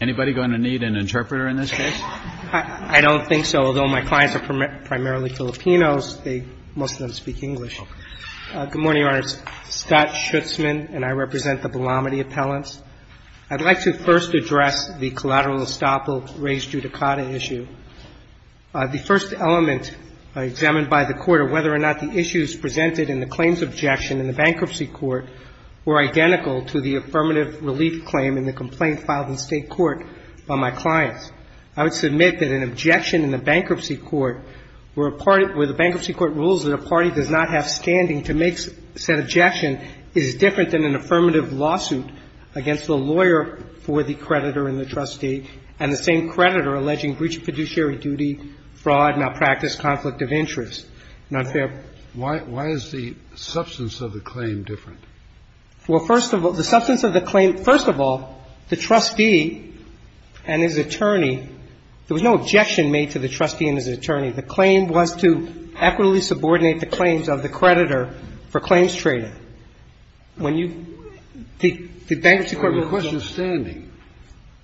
Anybody going to need an interpreter in this case? I don't think so. Although my clients are primarily Filipinos, most of them speak English. Good morning, Your Honors. Scott Schutzman, and I represent the Belamide appellants. I'd like to first address the collateral estoppel raised judicata issue. The first element examined by the Court are whether or not the issues presented in the claims objection in the bankruptcy court were identical to the affirmative relief claim in the complaint filed in State court by my clients. I would submit that an objection in the bankruptcy court where the bankruptcy court rules that a party does not have standing to make said objection is different than an affirmative lawsuit against the lawyer for the creditor and the trustee and the same creditor alleging breach of fiduciary duty, fraud, malpractice, conflict of interest. Not fair. Why is the substance of the claim different? Well, first of all, the substance of the claim – first of all, the trustee and his attorney, there was no objection made to the trustee and his attorney. The claim was to equitably subordinate the claims of the creditor for claims trading. When you – the bankruptcy court rules that – The question is standing,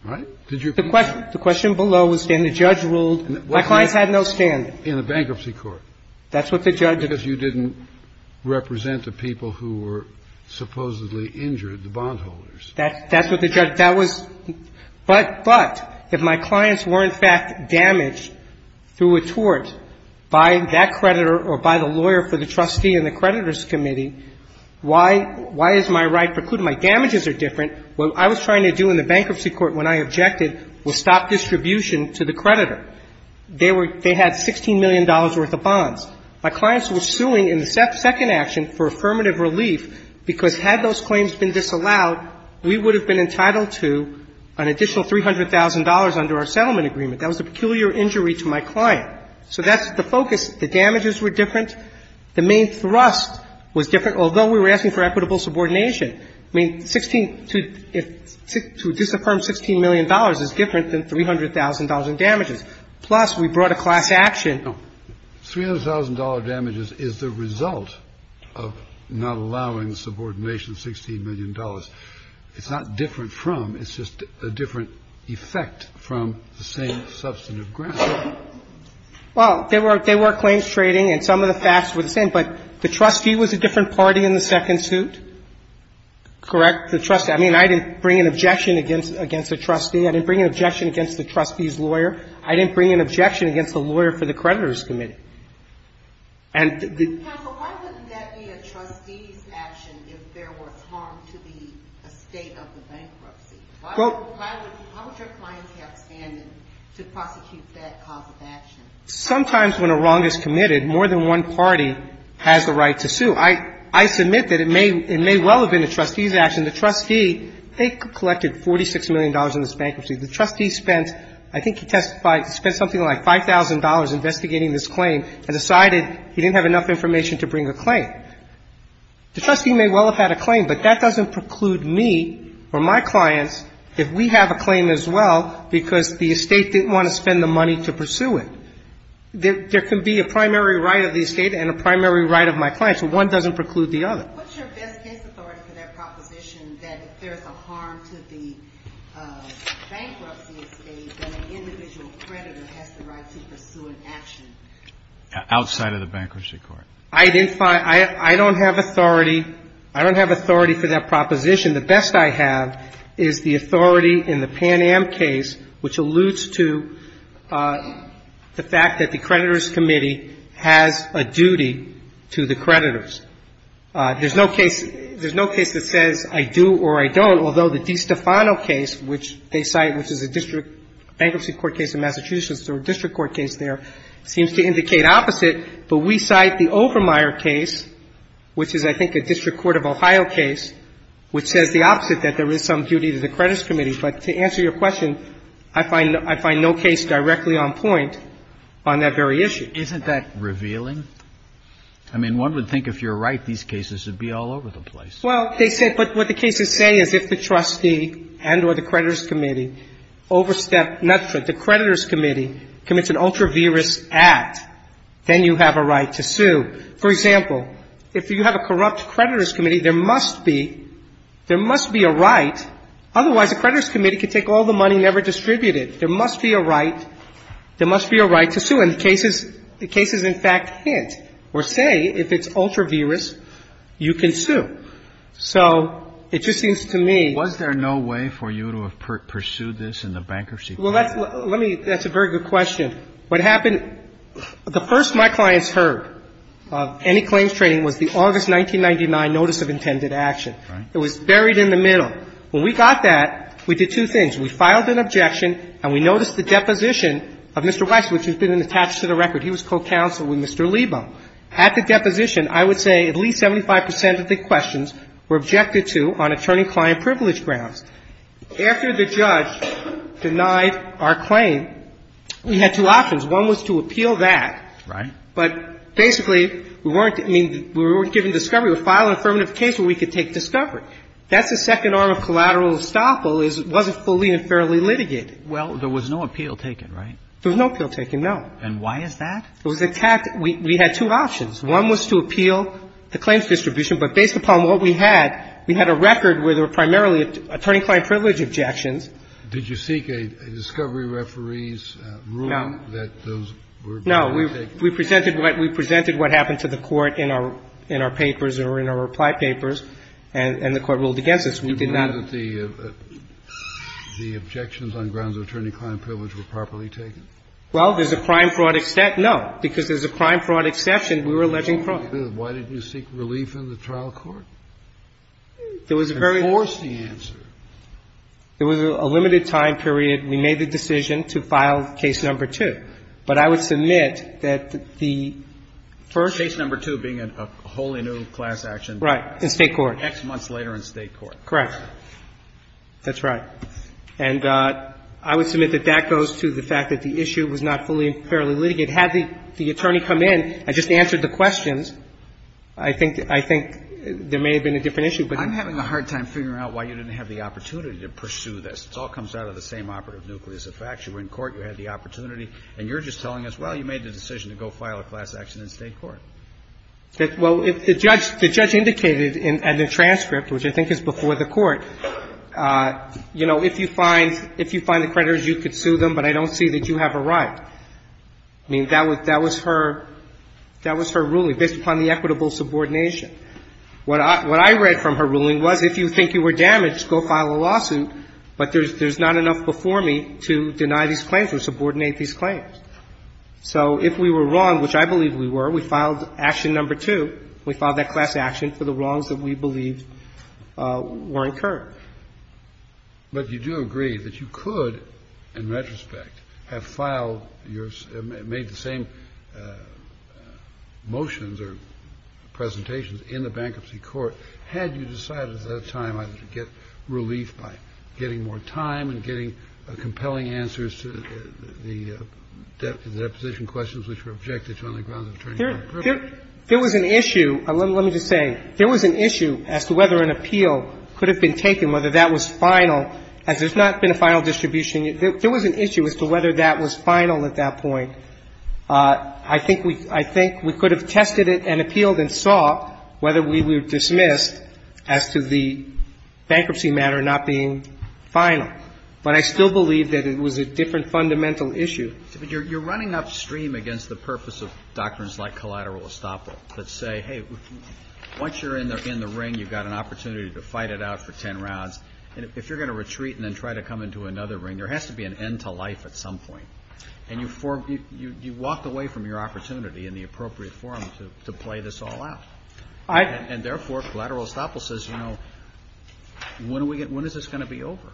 right? The question below was standing. The judge ruled my clients had no standing. In the bankruptcy court. That's what the judge – Because you didn't represent the people who were supposedly injured, the bondholders. That's what the judge – that was – but if my clients were in fact damaged through a tort by that creditor or by the lawyer for the trustee and the creditor's committee, why is my right precluded? My damages are different. What I was trying to do in the bankruptcy court when I objected was stop distribution to the creditor. They were – they had $16 million worth of bonds. My clients were suing in the second action for affirmative relief because had those claims been disallowed, we would have been entitled to an additional $300,000 under our settlement agreement. That was a peculiar injury to my client. So that's the focus. The damages were different. The main thrust was different, although we were asking for equitable subordination. I mean, 16 – to disaffirm $16 million is different than $300,000 in damages. Plus, we brought a class action. No. $300,000 damages is the result of not allowing subordination, $16 million. It's not different from. It's just a different effect from the same substantive grounds. Well, they were – they were claims trading and some of the facts were the same, but the trustee was a different party in the second suit, correct? The trustee – I mean, I didn't bring an objection against – against the trustee. I didn't bring an objection against the trustee's lawyer. I didn't bring an objection against the lawyer for the creditor's committee. And the – Counsel, why wouldn't that be a trustee's action if there was harm to the estate of the bankruptcy? Why would – why would – how would your clients have standing to prosecute that cause of action? Sometimes when a wrong is committed, more than one party has the right to sue. I – I submit that it may – it may well have been a trustee's action. The trustee, they collected $46 million in this bankruptcy. The trustee spent, I think he testified, spent something like $5,000 investigating this claim and decided he didn't have enough information to bring a claim. The trustee may well have had a claim, but that doesn't preclude me or my clients if we have a claim as well because the estate didn't want to spend the money to pursue it. There – there can be a primary right of the estate and a primary right of my clients, but one doesn't preclude the other. What's your best guess authority for that proposition that if there's a harm to the bankruptcy estate, then an individual creditor has the right to pursue an action? Outside of the bankruptcy court. I didn't find – I don't have authority – I don't have authority for that proposition. The best I have is the authority in the Pan Am case, which alludes to the fact that the creditors' committee has a duty to the creditors. There's no case – there's no case that says I do or I don't, although the DiStefano case, which they cite, which is a district bankruptcy court case in Massachusetts or a district court case there, seems to indicate opposite. But we cite the Overmeyer case, which is, I think, a District Court of Ohio case, which says the opposite, that there is some duty to the creditors' committee. But to answer your question, I find – I find no case directly on point on that very issue. Isn't that revealing? I mean, one would think if you're right, these cases would be all over the place. Well, they say – but what the cases say is if the trustee and or the creditors' committee overstep – the creditors' committee commits an ultra-virus act, then you have a right to sue. For example, if you have a corrupt creditors' committee, there must be – there must be a right. Otherwise, the creditors' committee could take all the money and never distribute it. There must be a right. There must be a right to sue. And the cases – the cases, in fact, hint or say if it's ultra-virus, you can sue. So it just seems to me – Was there no way for you to have pursued this in the bankruptcy case? Well, that's – let me – that's a very good question. What happened – the first my clients heard of any claims trading was the August 1999 notice of intended action. Right. It was buried in the middle. When we got that, we did two things. We filed an objection and we noticed the deposition of Mr. Weiss, which has been attached to the record. He was co-counsel with Mr. Lebo. At the deposition, I would say at least 75 percent of the questions were objected to on attorney-client privilege grounds. After the judge denied our claim, we had two options. One was to appeal that. Right. But basically, we weren't – I mean, we weren't given discovery. We filed an affirmative case where we could take discovery. That's the second arm of collateral estoppel is it wasn't fully and fairly litigated. Well, there was no appeal taken, right? There was no appeal taken, no. And why is that? It was a – we had two options. One was to appeal the claims distribution. But based upon what we had, we had a record where there were primarily attorney-client privilege objections. Did you seek a discovery referee's ruling that those were being litigated? No. We presented what happened to the Court in our papers or in our reply papers, and the Court ruled against us. We did not – Do you believe that the objections on grounds of attorney-client privilege were properly taken? Well, there's a crime-fraud except – no. Because there's a crime-fraud exception, we were alleging fraud. Why didn't you seek relief in the trial court? There was a very – And force the answer. There was a limited time period. We made the decision to file case number two. But I would submit that the first – Case number two being a wholly new class action. Right. In State court. X months later in State court. Correct. That's right. And I would submit that that goes to the fact that the issue was not fully and fairly litigated. Had the attorney come in and just answered the questions, I think – I think there may have been a different issue. But I'm having a hard time figuring out why you didn't have the opportunity to pursue this. This all comes out of the same operative nucleus. The fact you were in court, you had the opportunity, and you're just telling us, well, you made the decision to go file a class action in State court. Well, if the judge – the judge indicated in the transcript, which I think is before the court, you know, if you find – if you find the creditors, you could sue them, but I don't see that you have a right. I mean, that was – that was her – that was her ruling based upon the equitable subordination. What I – what I read from her ruling was if you think you were damaged, go file a class action. If you deny these claims or subordinate these claims. So if we were wrong, which I believe we were, we filed action number two. We filed that class action for the wrongs that we believed were incurred. But you do agree that you could, in retrospect, have filed your – made the same motions or presentations in the bankruptcy court had you decided at that time either to get the deposition questions, which were objected to on the grounds of attorney's own privilege? There was an issue. Let me just say, there was an issue as to whether an appeal could have been taken, whether that was final. As there's not been a final distribution, there was an issue as to whether that was final at that point. I think we – I think we could have tested it and appealed and saw whether we were dismissed as to the bankruptcy matter not being final. But I still believe that it was a different fundamental issue. But you're running upstream against the purpose of doctrines like collateral estoppel that say, hey, once you're in the ring, you've got an opportunity to fight it out for ten rounds. And if you're going to retreat and then try to come into another ring, there has to be an end to life at some point. And you walked away from your opportunity in the appropriate forum to play this all out. And therefore, collateral estoppel says, you know, when is this going to be over?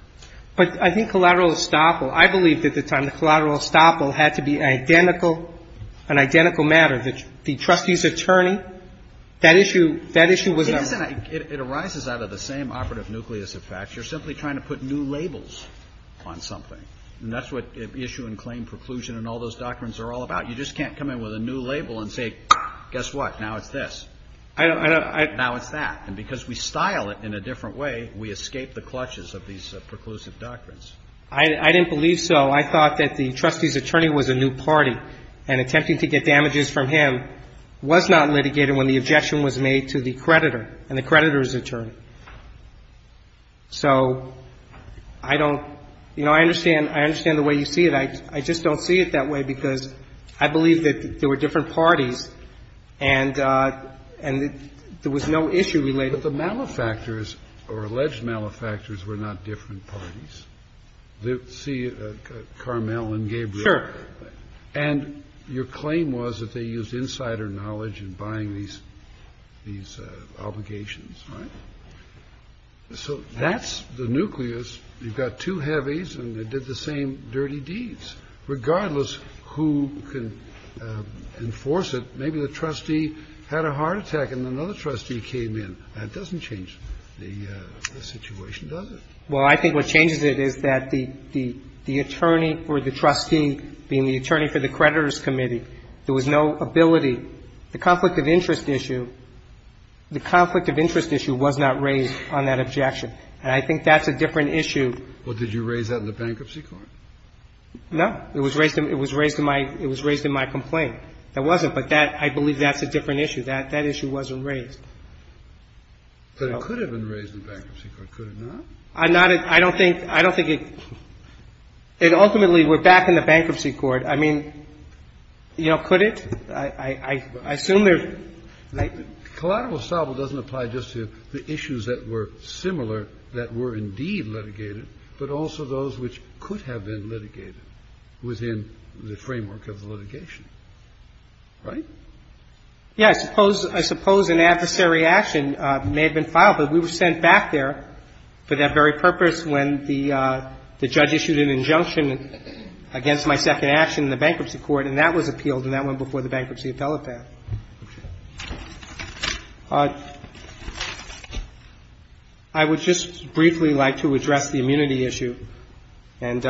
But I think collateral estoppel – I believed at the time that collateral estoppel had to be identical – an identical matter. The trustee's attorney, that issue – that issue was a – It isn't a – it arises out of the same operative nucleus of facts. You're simply trying to put new labels on something. And that's what issue and claim preclusion and all those doctrines are all about. You just can't come in with a new label and say, guess what, now it's this. I don't – I don't – Now it's that. And because we style it in a different way, we escape the clutches of these preclusive doctrines. I didn't believe so. I thought that the trustee's attorney was a new party. And attempting to get damages from him was not litigated when the objection was made to the creditor and the creditor's attorney. So I don't – you know, I understand – I understand the way you see it. I just don't see it that way because I believe that there were different parties and – and there was no issue related. But the malefactors or alleged malefactors were not different parties. See, Carmel and Gabriel. Sure. And your claim was that they used insider knowledge in buying these – these obligations. Right? So that's the nucleus. You've got two heavies and they did the same dirty deeds. Regardless who can enforce it, maybe the trustee had a heart attack and another trustee came in. That doesn't change the situation, does it? Well, I think what changes it is that the attorney or the trustee being the attorney for the creditor's committee, there was no ability – the conflict of interest issue – the conflict of interest issue was not raised on that objection. And I think that's a different issue. Well, did you raise that in the bankruptcy court? No. It was raised – it was raised in my – it was raised in my complaint. It wasn't, but that – I believe that's a different issue. That issue wasn't raised. But it could have been raised in the bankruptcy court, could it not? I'm not – I don't think – I don't think it – it ultimately – we're back in the bankruptcy court. I mean, you know, could it? I assume there's – Collado-Ostavo doesn't apply just to the issues that were similar that were indeed litigated, but also those which could have been litigated within the framework of the litigation. Right? Yeah. I suppose – I suppose an adversary action may have been filed, but we were sent back there for that very purpose when the judge issued an injunction against my second action in the bankruptcy court, and that was appealed, and that went before the bankruptcy appellate. Okay. I would just briefly like to address the immunity issue. And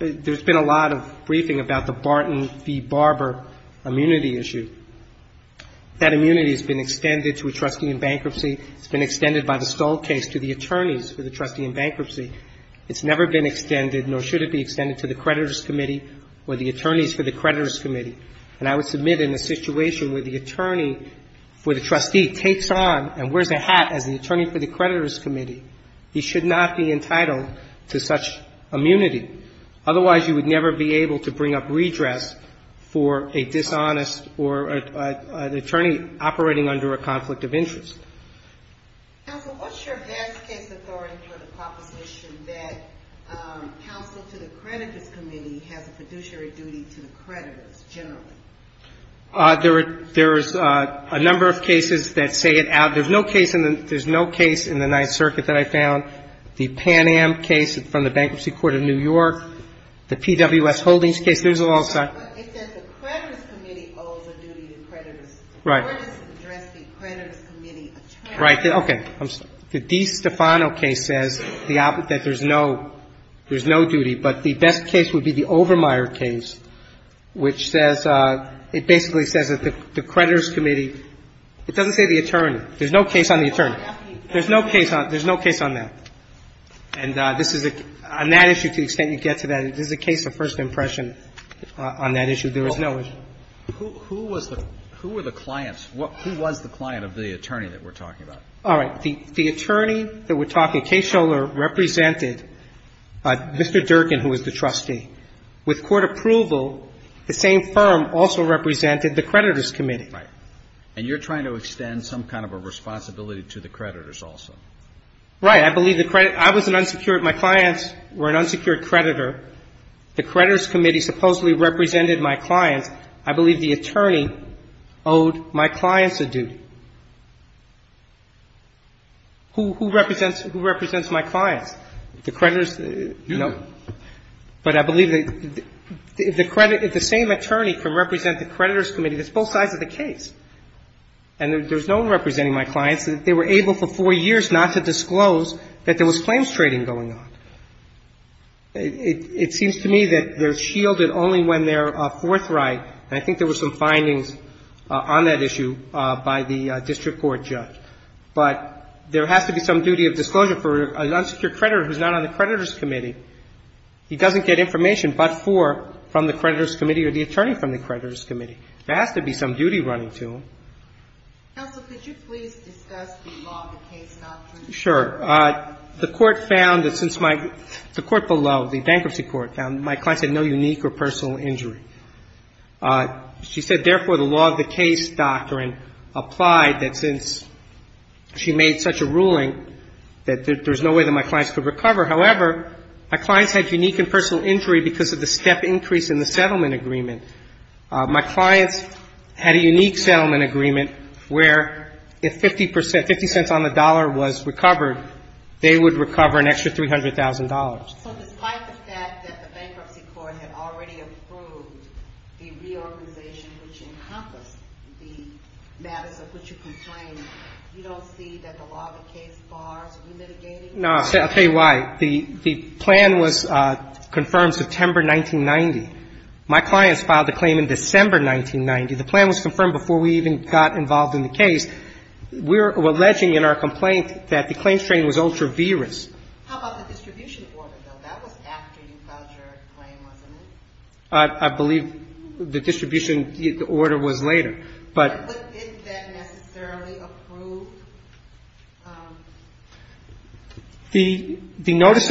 there's been a lot of briefing about the Barton v. Barber immunity issue. That immunity has been extended to a trustee in bankruptcy. It's been extended by the Stoll case to the attorneys for the trustee in bankruptcy. It's never been extended, nor should it be extended, to the creditors' committee or the attorneys for the creditors' committee. And I would submit in a situation where the attorney for the trustee takes on and wears a hat as the attorney for the creditors' committee, he should not be entitled to such immunity. Otherwise, you would never be able to bring up redress for a dishonest or an attorney operating under a conflict of interest. Counsel, what's your best case authority for the proposition that counsel to the creditors' committee has a fiduciary duty to the creditors generally? There's a number of cases that say it out. There's no case in the Ninth Circuit that I found. The Pan Am case from the Bankruptcy Court of New York, the PWS Holdings case, there's all sorts. But it says the creditors' committee owes a duty to creditors. Right. Where does it address the creditors' committee attorney? Right. Okay. The DiStefano case says that there's no duty. But the best case would be the Overmeyer case, which says, it basically says that the creditors' committee It doesn't say the attorney. There's no case on the attorney. There's no case on that. And this is a, on that issue, to the extent you get to that, this is a case of first impression on that issue. There was no issue. Who was the, who were the clients? Who was the client of the attorney that we're talking about? All right. The attorney that we're talking, Case Scholar, represented Mr. Durkin, who was the trustee. With court approval, the same firm also represented the creditors' committee. Right. And you're trying to extend some kind of a responsibility to the creditors also. Right. I believe the credit, I was an unsecured, my clients were an unsecured creditor. The creditors' committee supposedly represented my clients. I believe the attorney owed my clients a duty. Who represents, who represents my clients? The creditors? No. But I believe that if the credit, if the same attorney can represent the creditors' committee, that's both sides of the case. And there's no one representing my clients. They were able for four years not to disclose that there was claims trading going on. It seems to me that they're shielded only when they're forthright. And I think there were some findings on that issue by the district court judge. But there has to be some duty of disclosure for an unsecured creditor who's not on the creditors' committee. He doesn't get information but for from the creditors' committee or the attorney from the creditors' committee. There has to be some duty running to him. Counsel, could you please discuss the law of the case not to disclose? Sure. The court found that since my, the court below, the bankruptcy court found my clients had no unique or personal injury. She said, therefore, the law of the case doctrine applied that since she made such a ruling that there's no way that my clients could recover. However, my clients had unique and personal injury because of the step increase in the settlement agreement. My clients had a unique settlement agreement where if 50 percent, 50 cents on the dollar was recovered, they would recover an extra $300,000. So despite the fact that the bankruptcy court had already approved the reorganization which encompassed the matters of which you complain, you don't see that the law of the case bars remitigating? No. I'll tell you why. The plan was confirmed September 1990. My clients filed the claim in December 1990. The plan was confirmed before we even got involved in the case. We're alleging in our complaint that the claims training was ultra-virus. How about the distribution order, though? That was after you filed your claim, wasn't it? I believe the distribution order was later. But didn't that necessarily approve? The notice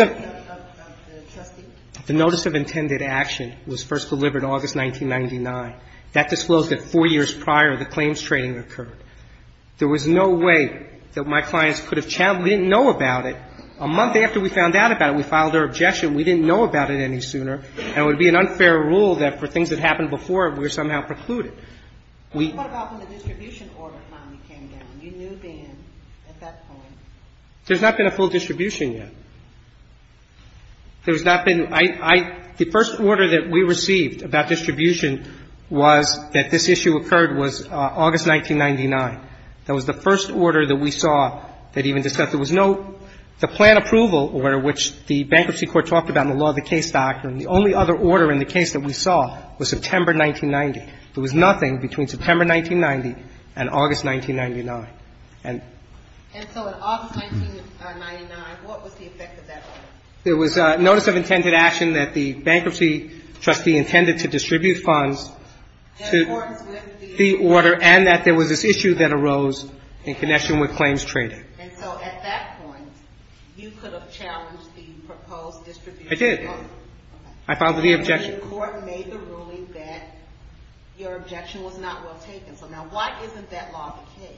of intended action was first delivered August 1999. That disclosed that four years prior the claims training occurred. There was no way that my clients could have challenged it. We didn't know about it. A month after we found out about it, we filed our objection. We didn't know about it any sooner. And it would be an unfair rule that for things that happened before, we were somehow precluded. What about when the distribution order finally came down? You knew then, at that point. There's not been a full distribution yet. There's not been the first order that we received about distribution was that this issue occurred was August 1999. That was the first order that we saw that even discussed it. There was no plan approval order, which the bankruptcy court talked about in the law of the case doctrine. The only other order in the case that we saw was September 1990. There was nothing between September 1990 and August 1999. And so in August 1999, what was the effect of that? There was a notice of intended action that the bankruptcy trustee intended to distribute funds. The order and that there was this issue that arose in connection with claims trading. And so at that point, you could have challenged the proposed distribution order. I did. I filed the objection. And the court made the ruling that your objection was not well taken. So now why isn't that law of the case?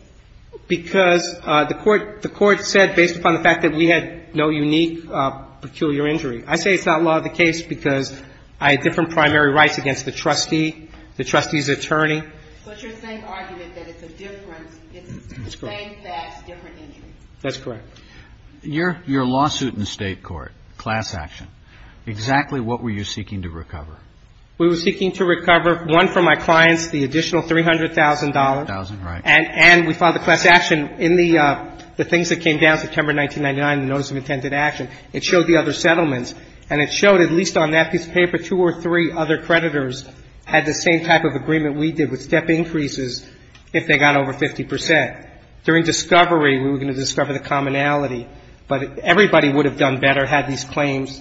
Because the court said, based upon the fact that we had no unique, peculiar injury. I say it's not law of the case because I had different primary rights against the trustee, the trustee's attorney. But you're saying argument that it's a difference. It's the same facts, different injuries. That's correct. Your lawsuit in the State court, class action, exactly what were you seeking to recover? We were seeking to recover one for my clients, the additional $300,000. $300,000, right. And we filed the class action in the things that came down September 1999, the notice of intended action. It showed the other settlements. And it showed, at least on that piece of paper, two or three other creditors had the same type of agreement we did with step increases if they got over 50 percent. During discovery, we were going to discover the commonality. But everybody would have done better had these claims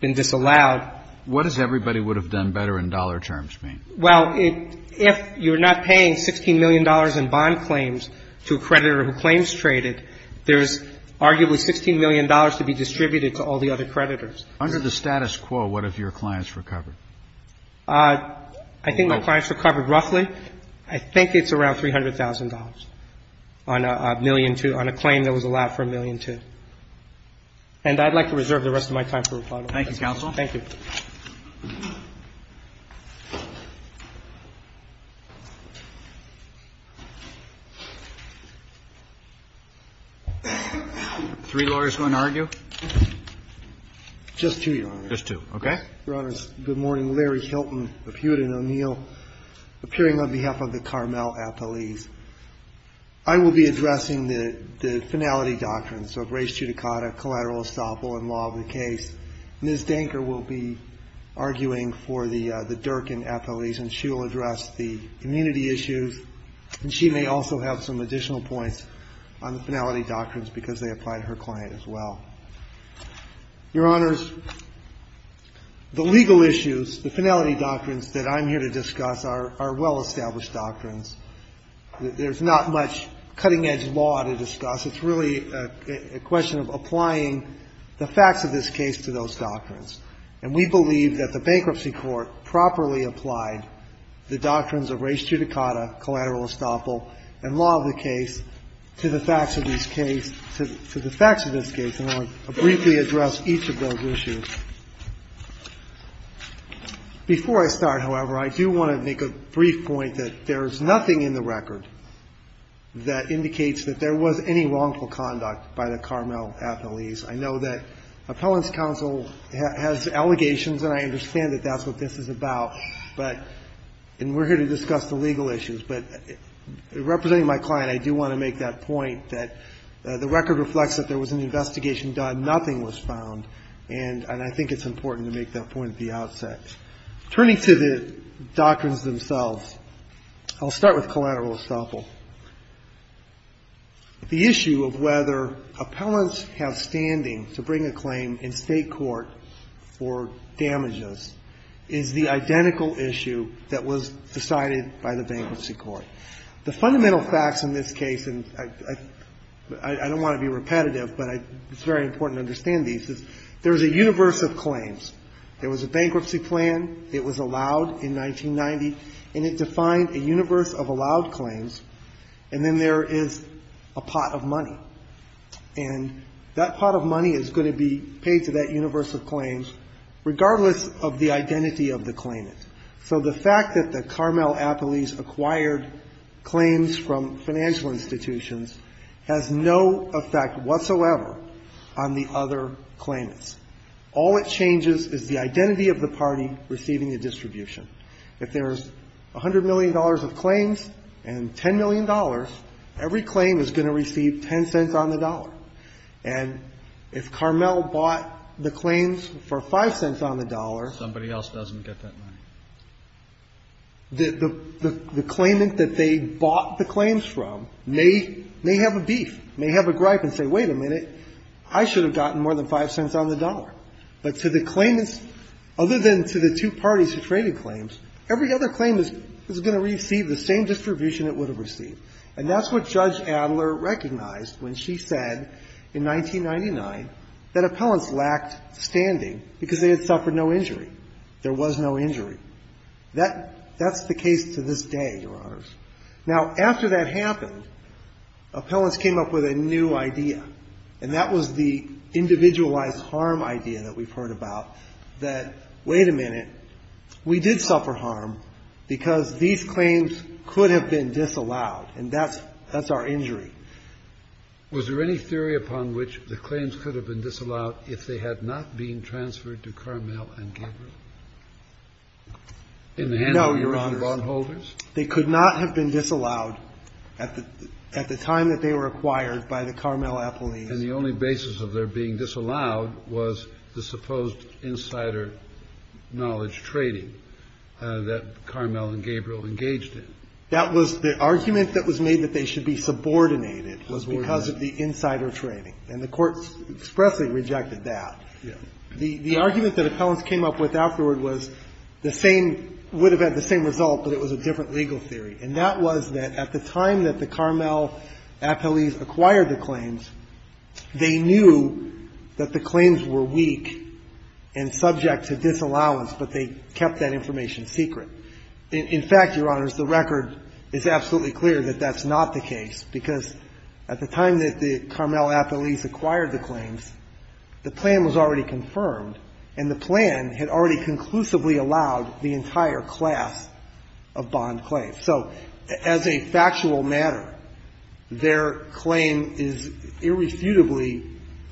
been disallowed. What does everybody would have done better in dollar terms mean? Well, if you're not paying $16 million in bond claims to a creditor who claims traded, there's arguably $16 million to be distributed to all the other creditors. Under the status quo, what have your clients recovered? I think my clients recovered roughly, I think it's around $300,000 on a claim that was allowed for a million two. And I'd like to reserve the rest of my time for rebuttal. Thank you, counsel. Thank you. Three lawyers going to argue? Just two, Your Honor. Just two. Okay. Your Honors, good morning. Larry Hilton of Hewitt & O'Neill, appearing on behalf of the Carmel Appellees. I will be addressing the finality doctrines of res judicata, collateral estoppel, and law of the case. Ms. Danker will be arguing for the Durkin appellees, and she will address the immunity issues. And she may also have some additional points on the finality doctrines because they apply to her client as well. Your Honors, the legal issues, the finality doctrines that I'm here to discuss are well-established doctrines. There's not much cutting-edge law to discuss. It's really a question of applying the facts of this case to those doctrines. And we believe that the bankruptcy court properly applied the doctrines of res judicata, collateral estoppel, and law of the case to the facts of this case, to the facts of this case. And I want to briefly address each of those issues. Before I start, however, I do want to make a brief point that there is nothing in the record that indicates that there was any wrongdoing or wrongful conduct by the Carmel appellees. I know that Appellant's Counsel has allegations, and I understand that that's what this is about. But we're here to discuss the legal issues. But representing my client, I do want to make that point that the record reflects that there was an investigation done. Nothing was found. And I think it's important to make that point at the outset. Turning to the doctrines themselves, I'll start with collateral estoppel. The issue of whether appellants have standing to bring a claim in State court for damages is the identical issue that was decided by the bankruptcy court. The fundamental facts in this case, and I don't want to be repetitive, but it's very important to understand these, is there is a universe of claims. There was a bankruptcy plan. It was allowed in 1990. And it defined a universe of allowed claims. And then there is a pot of money. And that pot of money is going to be paid to that universe of claims, regardless of the identity of the claimant. So the fact that the Carmel appellees acquired claims from financial institutions has no effect whatsoever on the other claimants. All it changes is the identity of the party receiving the distribution. If there's $100 million of claims and $10 million, every claim is going to receive $0.10 on the dollar. And if Carmel bought the claims for $0.05 on the dollar. Kennedy. Somebody else doesn't get that money. The claimant that they bought the claims from may have a beef, may have a gripe and say, wait a minute, I should have gotten more than $0.05 on the dollar. But to the claimants, other than to the two parties who traded claims, every other claim is going to receive the same distribution it would have received. And that's what Judge Adler recognized when she said in 1999 that appellants lacked standing because they had suffered no injury. There was no injury. That's the case to this day, Your Honors. Now, after that happened, appellants came up with a new idea, and that was the individualized harm idea that we've heard about, that, wait a minute, we did suffer harm because these claims could have been disallowed. And that's our injury. Was there any theory upon which the claims could have been disallowed if they had not been transferred to Carmel and Gabriel? No, Your Honors. They could not have been disallowed at the time that they were acquired by the Carmel Appellees. And the only basis of their being disallowed was the supposed insider knowledge trading that Carmel and Gabriel engaged in. That was the argument that was made that they should be subordinated was because of the insider trading. And the Court expressly rejected that. Yes. The argument that appellants came up with afterward was the same, would have had the same result, but it was a different legal theory. And that was that at the time that the Carmel Appellees acquired the claims, they knew that the claims were weak and subject to disallowance, but they kept that information secret. In fact, Your Honors, the record is absolutely clear that that's not the case, because at the time that the Carmel Appellees acquired the claims, the plan was already Now, as a factual matter, their claim is irrefutably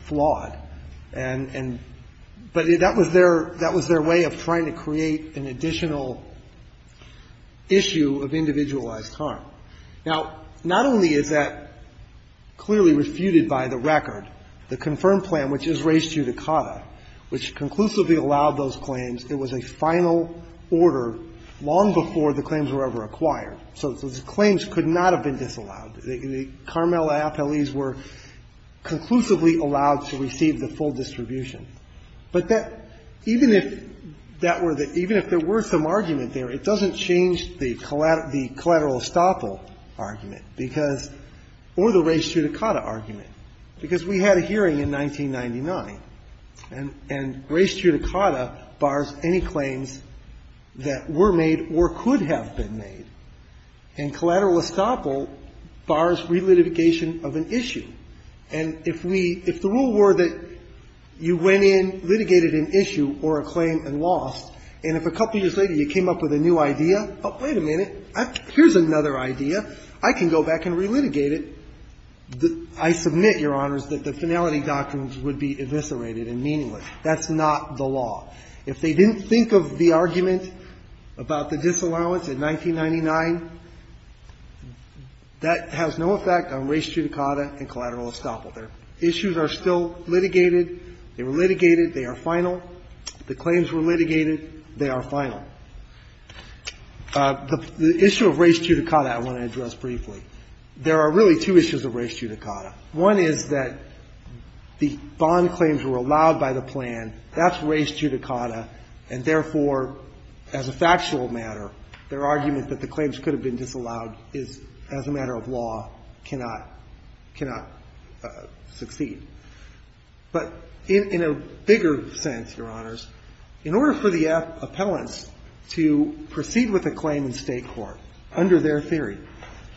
flawed, and that was their way of trying to create an additional issue of individualized harm. Now, not only is that clearly refuted by the record, the confirmed plan, which is raised due to Cata, which conclusively allowed those claims, it was a final order long before the claims were ever acquired. So the claims could not have been disallowed. The Carmel Appellees were conclusively allowed to receive the full distribution. But that, even if that were the – even if there were some argument there, it doesn't change the collateral estoppel argument because – or the raised due to Cata argument, because we had a hearing in 1999, and raised due to Cata bars any claims that were made or could have been made. And collateral estoppel bars relitigation of an issue. And if we – if the rule were that you went in, litigated an issue or a claim and lost, and if a couple years later you came up with a new idea, oh, wait a minute, here's another idea, I can go back and relitigate it, I submit, Your Honors, that the finality documents would be eviscerated and meaningless. That's not the law. If they didn't think of the argument about the disallowance in 1999, that has no effect on raised due to Cata and collateral estoppel. Their issues are still litigated. They were litigated. They are final. The claims were litigated. They are final. The issue of raised due to Cata I want to address briefly. There are really two issues of raised due to Cata. One is that the bond claims were allowed by the plan. That's raised due to Cata. And therefore, as a factual matter, their argument that the claims could have been disallowed is, as a matter of law, cannot – cannot succeed. But in a bigger sense, Your Honors, in order for the appellants to proceed with a claim in State court under their theory,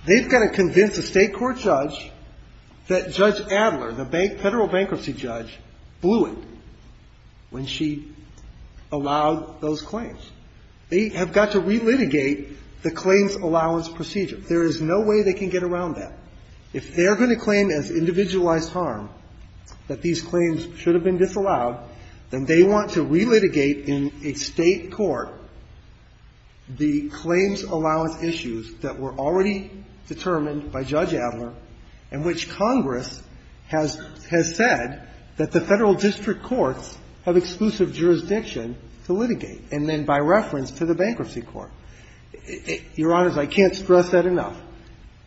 they've got to convince a State court judge that Judge Adler, the Federal bankruptcy judge, blew it when she allowed those claims. They have got to relitigate the claims allowance procedure. There is no way they can get around that. If they're going to claim as individualized harm that these claims should have been disallowed, then they want to relitigate in a State court the claims allowance issues that were already determined by Judge Adler and which Congress has – has said that the Federal district courts have exclusive jurisdiction to litigate, and then by reference to the bankruptcy court. Your Honors, I can't stress that enough.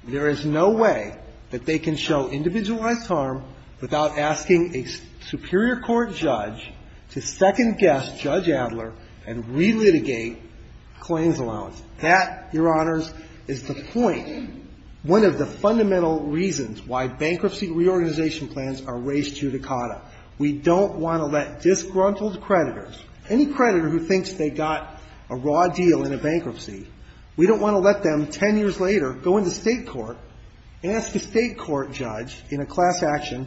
There is no way that they can show individualized harm without asking a superior court judge to second-guess Judge Adler and relitigate claims allowance. That, Your Honors, is the point, one of the fundamental reasons why bankruptcy reorganization plans are race judicata. We don't want to let disgruntled creditors, any creditor who thinks they got a raw deal in a bankruptcy, we don't want to let them 10 years later go into State court and ask a State court judge in a class action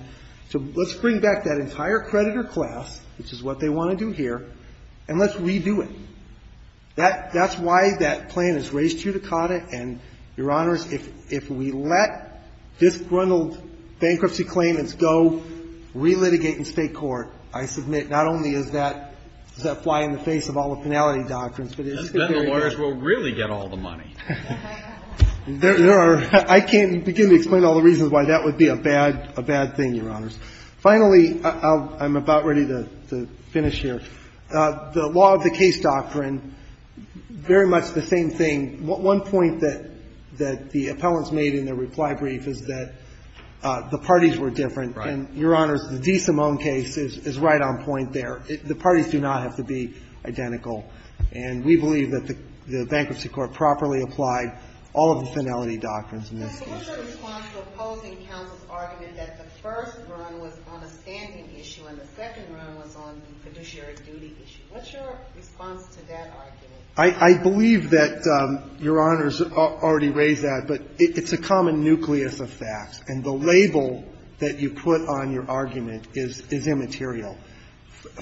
to let's bring back that entire creditor class, which is what they want to do here, and let's redo it. That's why that plan is race judicata. And, Your Honors, if we let disgruntled bankruptcy claimants go, relitigate in State court, I submit not only is that – does that fly in the face of all the finality doctrines, but it is the very case. Kennedy. That's when the lawyers will really get all the money. There are – I can't begin to explain all the reasons why that would be a bad – a bad thing, Your Honors. Finally, I'm about ready to finish here. The law of the case doctrine, very much the same thing. One point that the appellants made in their reply brief is that the parties were different. And, Your Honors, the DeSimone case is right on point there. The parties do not have to be identical. And we believe that the Bankruptcy Court properly applied all of the finality doctrines in this case. What's your response to opposing counsel's argument that the first run was on a standing issue and the second run was on the fiduciary duty issue? What's your response to that argument? I believe that Your Honors already raised that, but it's a common nucleus of facts. And the label that you put on your argument is immaterial.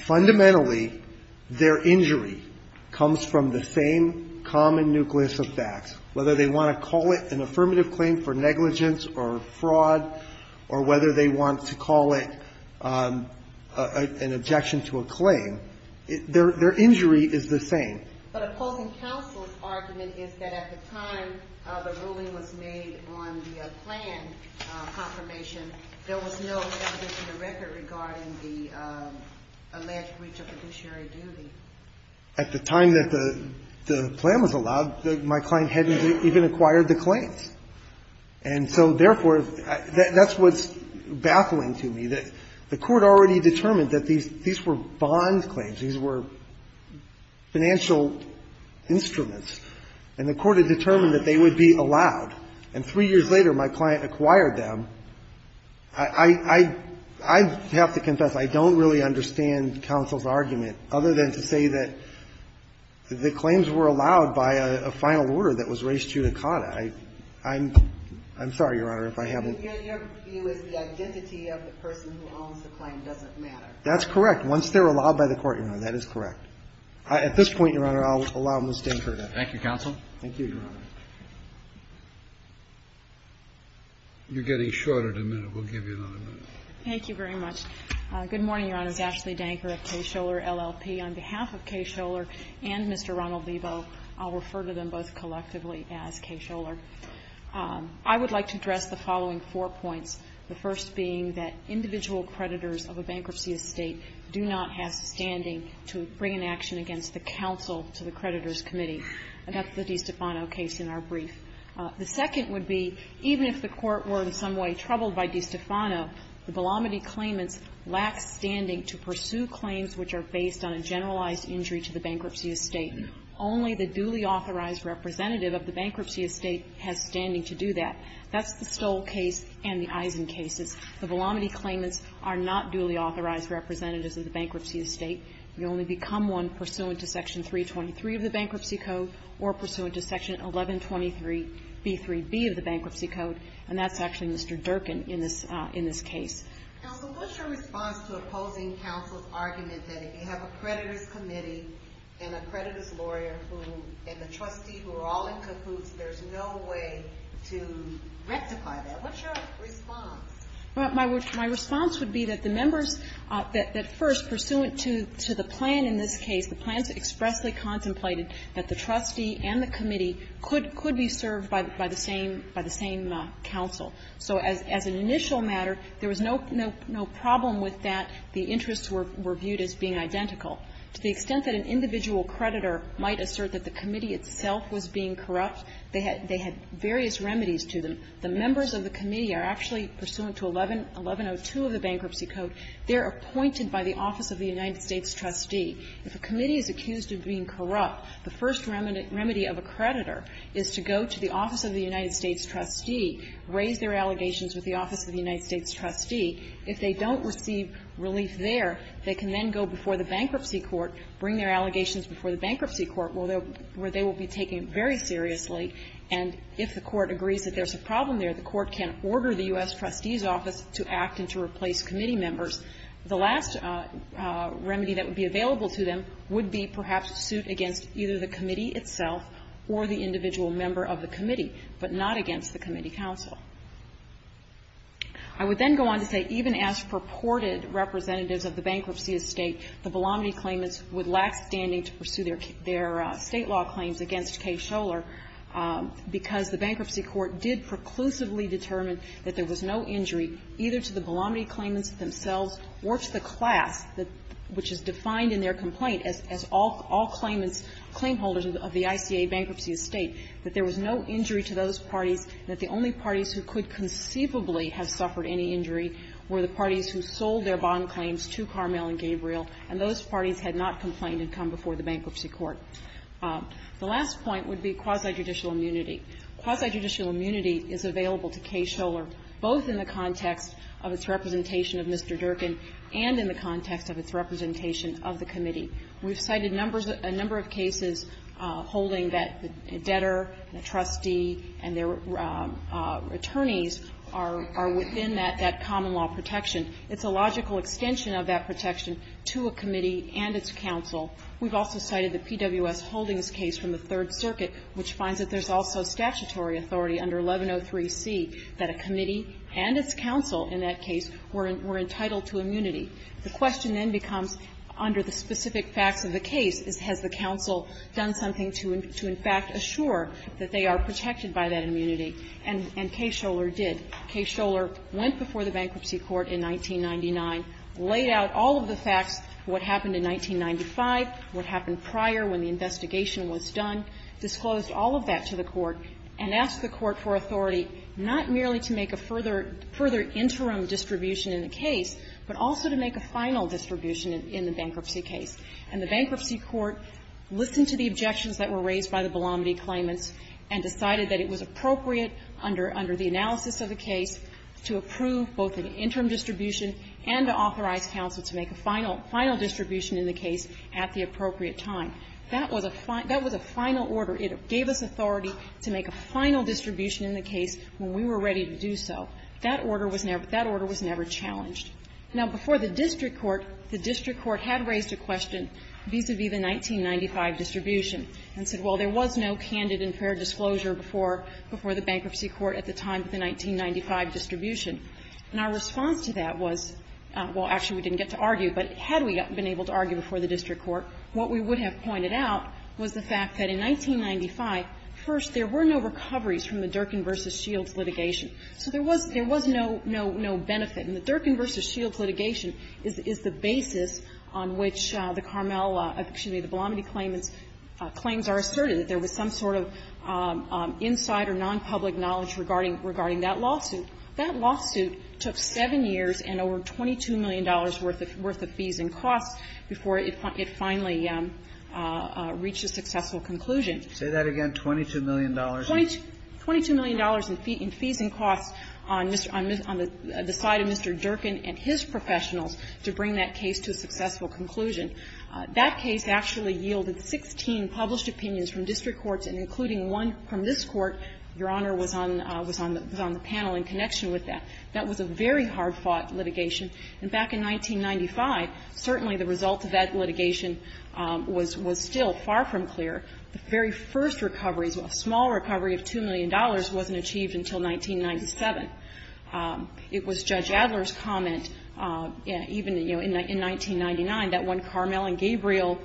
Fundamentally, their injury comes from the same common nucleus of facts, whether they want to call it an affirmative claim for negligence or fraud or whether they want to call it an objection to a claim. Their injury is the same. But opposing counsel's argument is that at the time the ruling was made on the plan confirmation, there was no evidence in the record regarding the alleged breach of fiduciary duty. At the time that the plan was allowed, my client hadn't even acquired the claims. And so, therefore, that's what's baffling to me, that the Court already determined that these were bond claims, these were financial instruments, and the Court had determined that they would be allowed. And three years later, my client acquired them. I have to confess I don't really understand counsel's argument, other than to say that the claims were allowed by a final order that was res judicata. I'm sorry, Your Honor, if I haven't ---- Your view is the identity of the person who owns the claim doesn't matter. That's correct. Once they're allowed by the Court, Your Honor, that is correct. At this point, Your Honor, I'll allow Ms. Danker to ---- Thank you, counsel. Thank you, Your Honor. You're getting short of a minute. We'll give you another minute. Thank you very much. Good morning, Your Honors. Ashley Danker of K. Scholar LLP. On behalf of K. Scholar and Mr. Ronald Lebo, I'll refer to them both collectively as K. Scholar. I would like to address the following four points, the first being that individual creditors of a bankruptcy estate do not have standing to bring an action against the counsel to the creditors' committee. And that's the DiStefano case in our brief. The second would be, even if the Court were in some way troubled by DiStefano, the Velamiti claimants lack standing to pursue claims which are based on a generalized injury to the bankruptcy estate. Only the duly authorized representative of the bankruptcy estate has standing to do that. That's the Stoll case and the Eisen cases. The Velamiti claimants are not duly authorized representatives of the bankruptcy estate. We only become one pursuant to Section 323 of the Bankruptcy Code or pursuant to Section 1123b3b of the Bankruptcy Code, and that's actually Mr. Durkin in this case. Now, so what's your response to opposing counsel's argument that if you have a creditors' committee and a creditors' lawyer who, and the trustee who are all in cahoots, there's no way to rectify that? What's your response? My response would be that the members that first, pursuant to the plan in this case, the plans expressly contemplated that the trustee and the committee could be served by the same counsel. So as an initial matter, there was no problem with that. The interests were viewed as being identical. To the extent that an individual creditor might assert that the committee itself was being corrupt, they had various remedies to them. The members of the committee are actually, pursuant to 1102 of the Bankruptcy Code, they're appointed by the office of the United States trustee. If a committee is accused of being corrupt, the first remedy of a creditor is to go to the office of the United States trustee, raise their allegations with the office of the United States trustee. If they don't receive relief there, they can then go before the bankruptcy court, bring their allegations before the bankruptcy court, where they will be taken very seriously. And if the court agrees that there's a problem there, the court can order the U.S. trustee's office to act and to replace committee members. The last remedy that would be available to them would be perhaps to suit against either the committee itself or the individual member of the committee, but not against the committee counsel. I would then go on to say even as purported representatives of the bankruptcy estate, the Belamity claimants would lack standing to pursue their State law claims against Kay Scholar, because the bankruptcy court did preclusively determine that there was no injury either to the Belamity claimants themselves or to the class which is defined in their complaint as all claimants, claim holders of the ICA bankruptcy estate, that there was no injury to those parties, that the only parties who could conceivably have suffered any injury were the parties who sold their bond claims to Carmel and Gabriel, and those parties had not complained and come before the bankruptcy court. The last point would be quasi-judicial immunity. Quasi-judicial immunity is available to Kay Scholar both in the context of its representation of Mr. Durkin and in the context of its representation of the committee. We've cited numbers of – a number of cases holding that a debtor, a trustee, and their attorneys are within that common law protection. It's a logical extension of that protection to a committee and its counsel. We've also cited the PWS Holdings case from the Third Circuit, which finds that there's also statutory authority under 1103C that a committee and its counsel in that case were entitled to immunity. The question then becomes, under the specific facts of the case, has the counsel done something to in fact assure that they are protected by that immunity? And Kay Scholar did. Kay Scholar went before the bankruptcy court in 1999, laid out all of the facts, what happened in 1995, what happened prior when the investigation was done, disclosed all of that to the court, and asked the court for authority not merely to make a further interim distribution in the case, but also to make a final distribution in the bankruptcy case. And the bankruptcy court listened to the objections that were raised by the Belamity claimants and decided that it was appropriate under the analysis of the case to approve both an interim distribution and to authorize counsel to make a final distribution in the case at the appropriate time. That was a final order. It gave us authority to make a final distribution in the case when we were ready to do so. That was a final distribution. But that order was never challenged. Now, before the district court, the district court had raised a question vis-a-vis the 1995 distribution and said, well, there was no candid and fair disclosure before the bankruptcy court at the time of the 1995 distribution. And our response to that was, well, actually we didn't get to argue, but had we been able to argue before the district court, what we would have pointed out was the fact that in 1995, first, there were no recoveries from the Durkin v. Shields litigation. So there was no benefit. And the Durkin v. Shields litigation is the basis on which the Carmel or excuse me, the Belamity claimants' claims are asserted, that there was some sort of inside or nonpublic knowledge regarding that lawsuit. That lawsuit took 7 years and over $22 million worth of fees and costs before it finally reached a successful conclusion. Kennedy. And it took 7 years and over $22 million worth of fees and costs on the side of Mr. Durkin and his professionals to bring that case to a successful conclusion. That case actually yielded 16 published opinions from district courts, and including one from this Court, Your Honor, was on the panel in connection with that. That was a very hard-fought litigation. And back in 1995, certainly the result of that litigation was still far from clear. The very first recoveries, a small recovery of $2 million, wasn't achieved until 1997. It was Judge Adler's comment, even, you know, in 1999, that when Carmel and Gabriel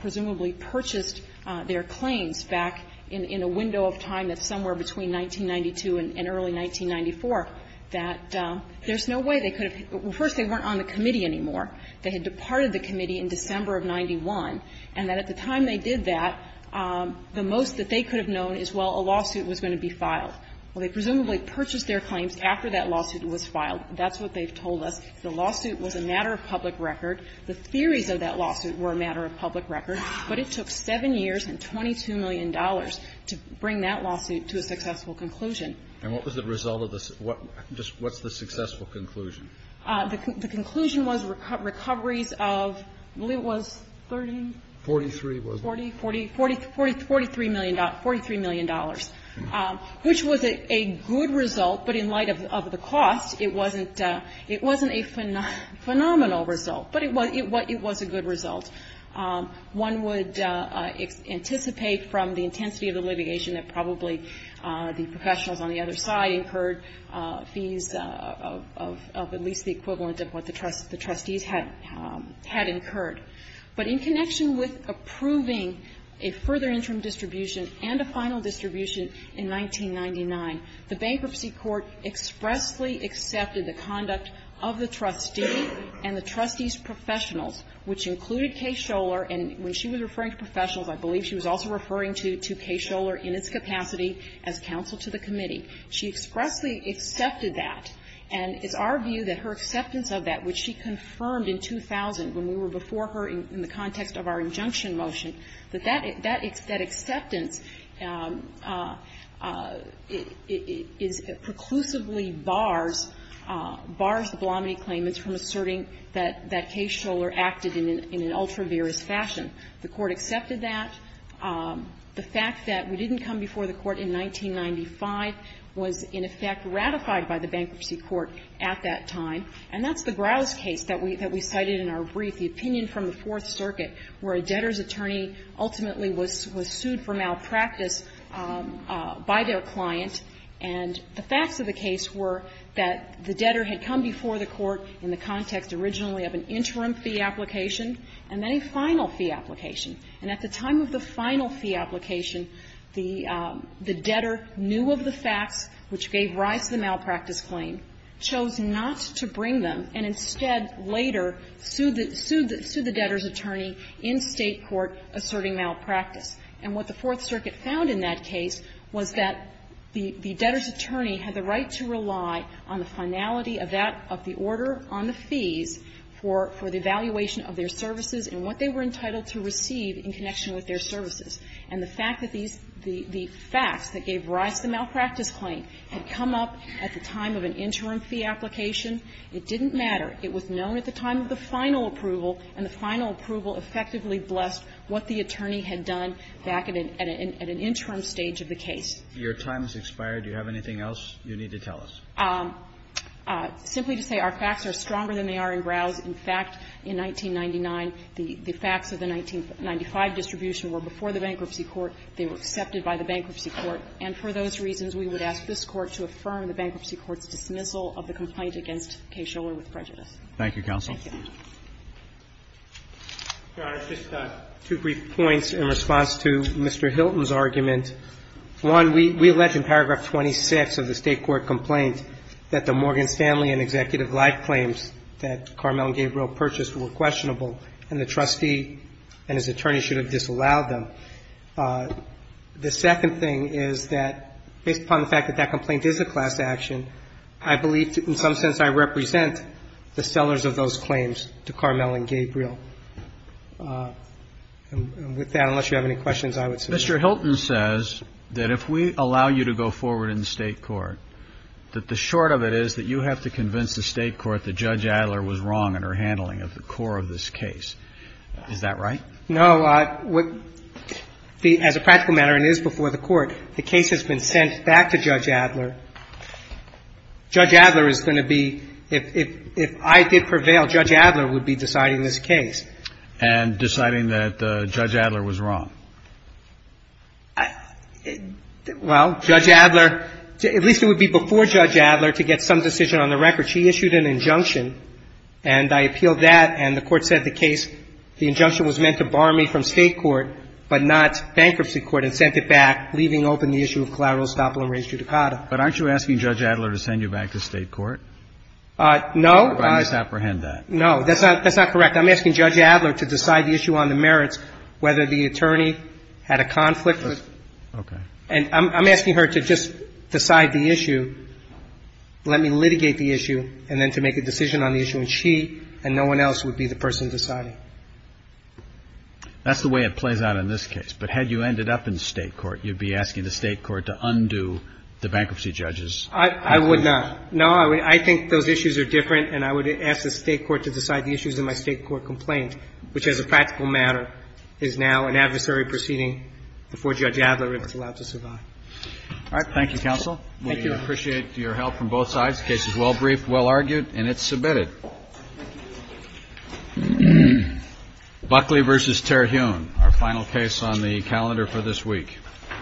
presumably purchased their claims back in a window of time that's somewhere between 1992 and early 1994, that there's no way they could have been ---- well, first, they weren't on the committee anymore. They had departed the committee in December of 91, and that at the time they did that, the most that they could have known is, well, a lawsuit was going to be filed. Well, they presumably purchased their claims after that lawsuit was filed. That's what they've told us. The lawsuit was a matter of public record. The theories of that lawsuit were a matter of public record. But it took 7 years and $22 million to bring that lawsuit to a successful conclusion. And what was the result of the ---- what's the successful conclusion? The conclusion was recoveries of, I believe it was 30? 43 was it? 43 million dollars, which was a good result. But in light of the cost, it wasn't a phenomenal result. But it was a good result. One would anticipate from the intensity of the litigation that probably the professionals on the other side incurred fees of at least the equivalent of what the trustees had incurred. But in connection with approving a further interim distribution and a final distribution in 1999, the Bankruptcy Court expressly accepted the conduct of the trustee and the trustees' professionals, which included Kaye Scholar. And when she was referring to professionals, I believe she was also referring to Kaye Scholar in its capacity as counsel to the committee. She expressly accepted that. And it's our view that her acceptance of that, which she confirmed in 2000 when we were before her in the context of our injunction motion, that that acceptance is preclusively bars, bars the Blomody claimants from asserting that Kaye Scholar acted in an ultra-virous fashion. The Court accepted that. The fact that we didn't come before the Court in 1995 was, in effect, ratified by the Bankruptcy Court at that time. And that's the Grouse case that we cited in our brief, the opinion from the Fourth Circuit, where a debtor's attorney ultimately was sued for malpractice by their client. And the facts of the case were that the debtor had come before the Court in the context originally of an interim fee application and then a final fee application. And at the time of the final fee application, the debtor knew of the facts which gave rise to the malpractice claim, chose not to bring them, and instead later sued the debtor's attorney in State court asserting malpractice. And what the Fourth Circuit found in that case was that the debtor's attorney had the right to rely on the finality of that of the order on the fees for the evaluation of their services and what they were entitled to receive in connection with their services. And the fact that these the facts that gave rise to the malpractice claim had come up at the time of an interim fee application, it didn't matter. It was known at the time of the final approval, and the final approval effectively blessed what the attorney had done back at an interim stage of the case. Roberts, your time has expired. Do you have anything else you need to tell us? Simply to say our facts are stronger than they are in Browse. In fact, in 1999, the facts of the 1995 distribution were before the Bankruptcy Court. They were accepted by the Bankruptcy Court. And for those reasons, we would ask this Court to affirm the Bankruptcy Court's dismissal of the complaint against Kay Shuller with prejudice. Thank you, counsel. Thank you. Roberts, just two brief points in response to Mr. Hilton's argument. One, we allege in paragraph 26 of the State court complaint that the Morgan Stanley and Executive Life claims that Carmel and Gabriel purchased were questionable, and the trustee and his attorney should have disallowed them. The second thing is that, based upon the fact that that complaint is a class action, I believe in some sense I represent the sellers of those claims to Carmel and Gabriel. And with that, unless you have any questions, I would suggest that. Mr. Hilton says that if we allow you to go forward in the State court, that the short of it is that you have to convince the State court that Judge Adler was wrong in her handling of the core of this case. Is that right? No. As a practical matter, it is before the Court. The case has been sent back to Judge Adler. Judge Adler is going to be, if I did prevail, Judge Adler would be deciding this case. And deciding that Judge Adler was wrong. Well, Judge Adler, at least it would be before Judge Adler to get some decision on the record. She issued an injunction, and I appealed that, and the Court said the case, the injunction was meant to bar me from State court, but not bankruptcy court, and sent it back, leaving open the issue of collateral estoppel and re-judicata. But aren't you asking Judge Adler to send you back to State court? No. I misapprehend that. No. That's not correct. I'm asking Judge Adler to decide the issue on the merits, whether the attorney had a conflict with. Okay. And I'm asking her to just decide the issue, let me litigate the issue, and then to make a decision on the issue, and she and no one else would be the person deciding. That's the way it plays out in this case. But had you ended up in State court, you'd be asking the State court to undo the bankruptcy judges. I would not. No, I think those issues are different, and I would ask the State court to decide the issues in my State court complaint, which, as a practical matter, is now an adversary proceeding before Judge Adler if it's allowed to survive. All right. Thank you, counsel. Thank you. We appreciate your help from both sides. The case is well briefed, well argued, and it's submitted. Buckley v. Terhune, our final case on the calendar for this week.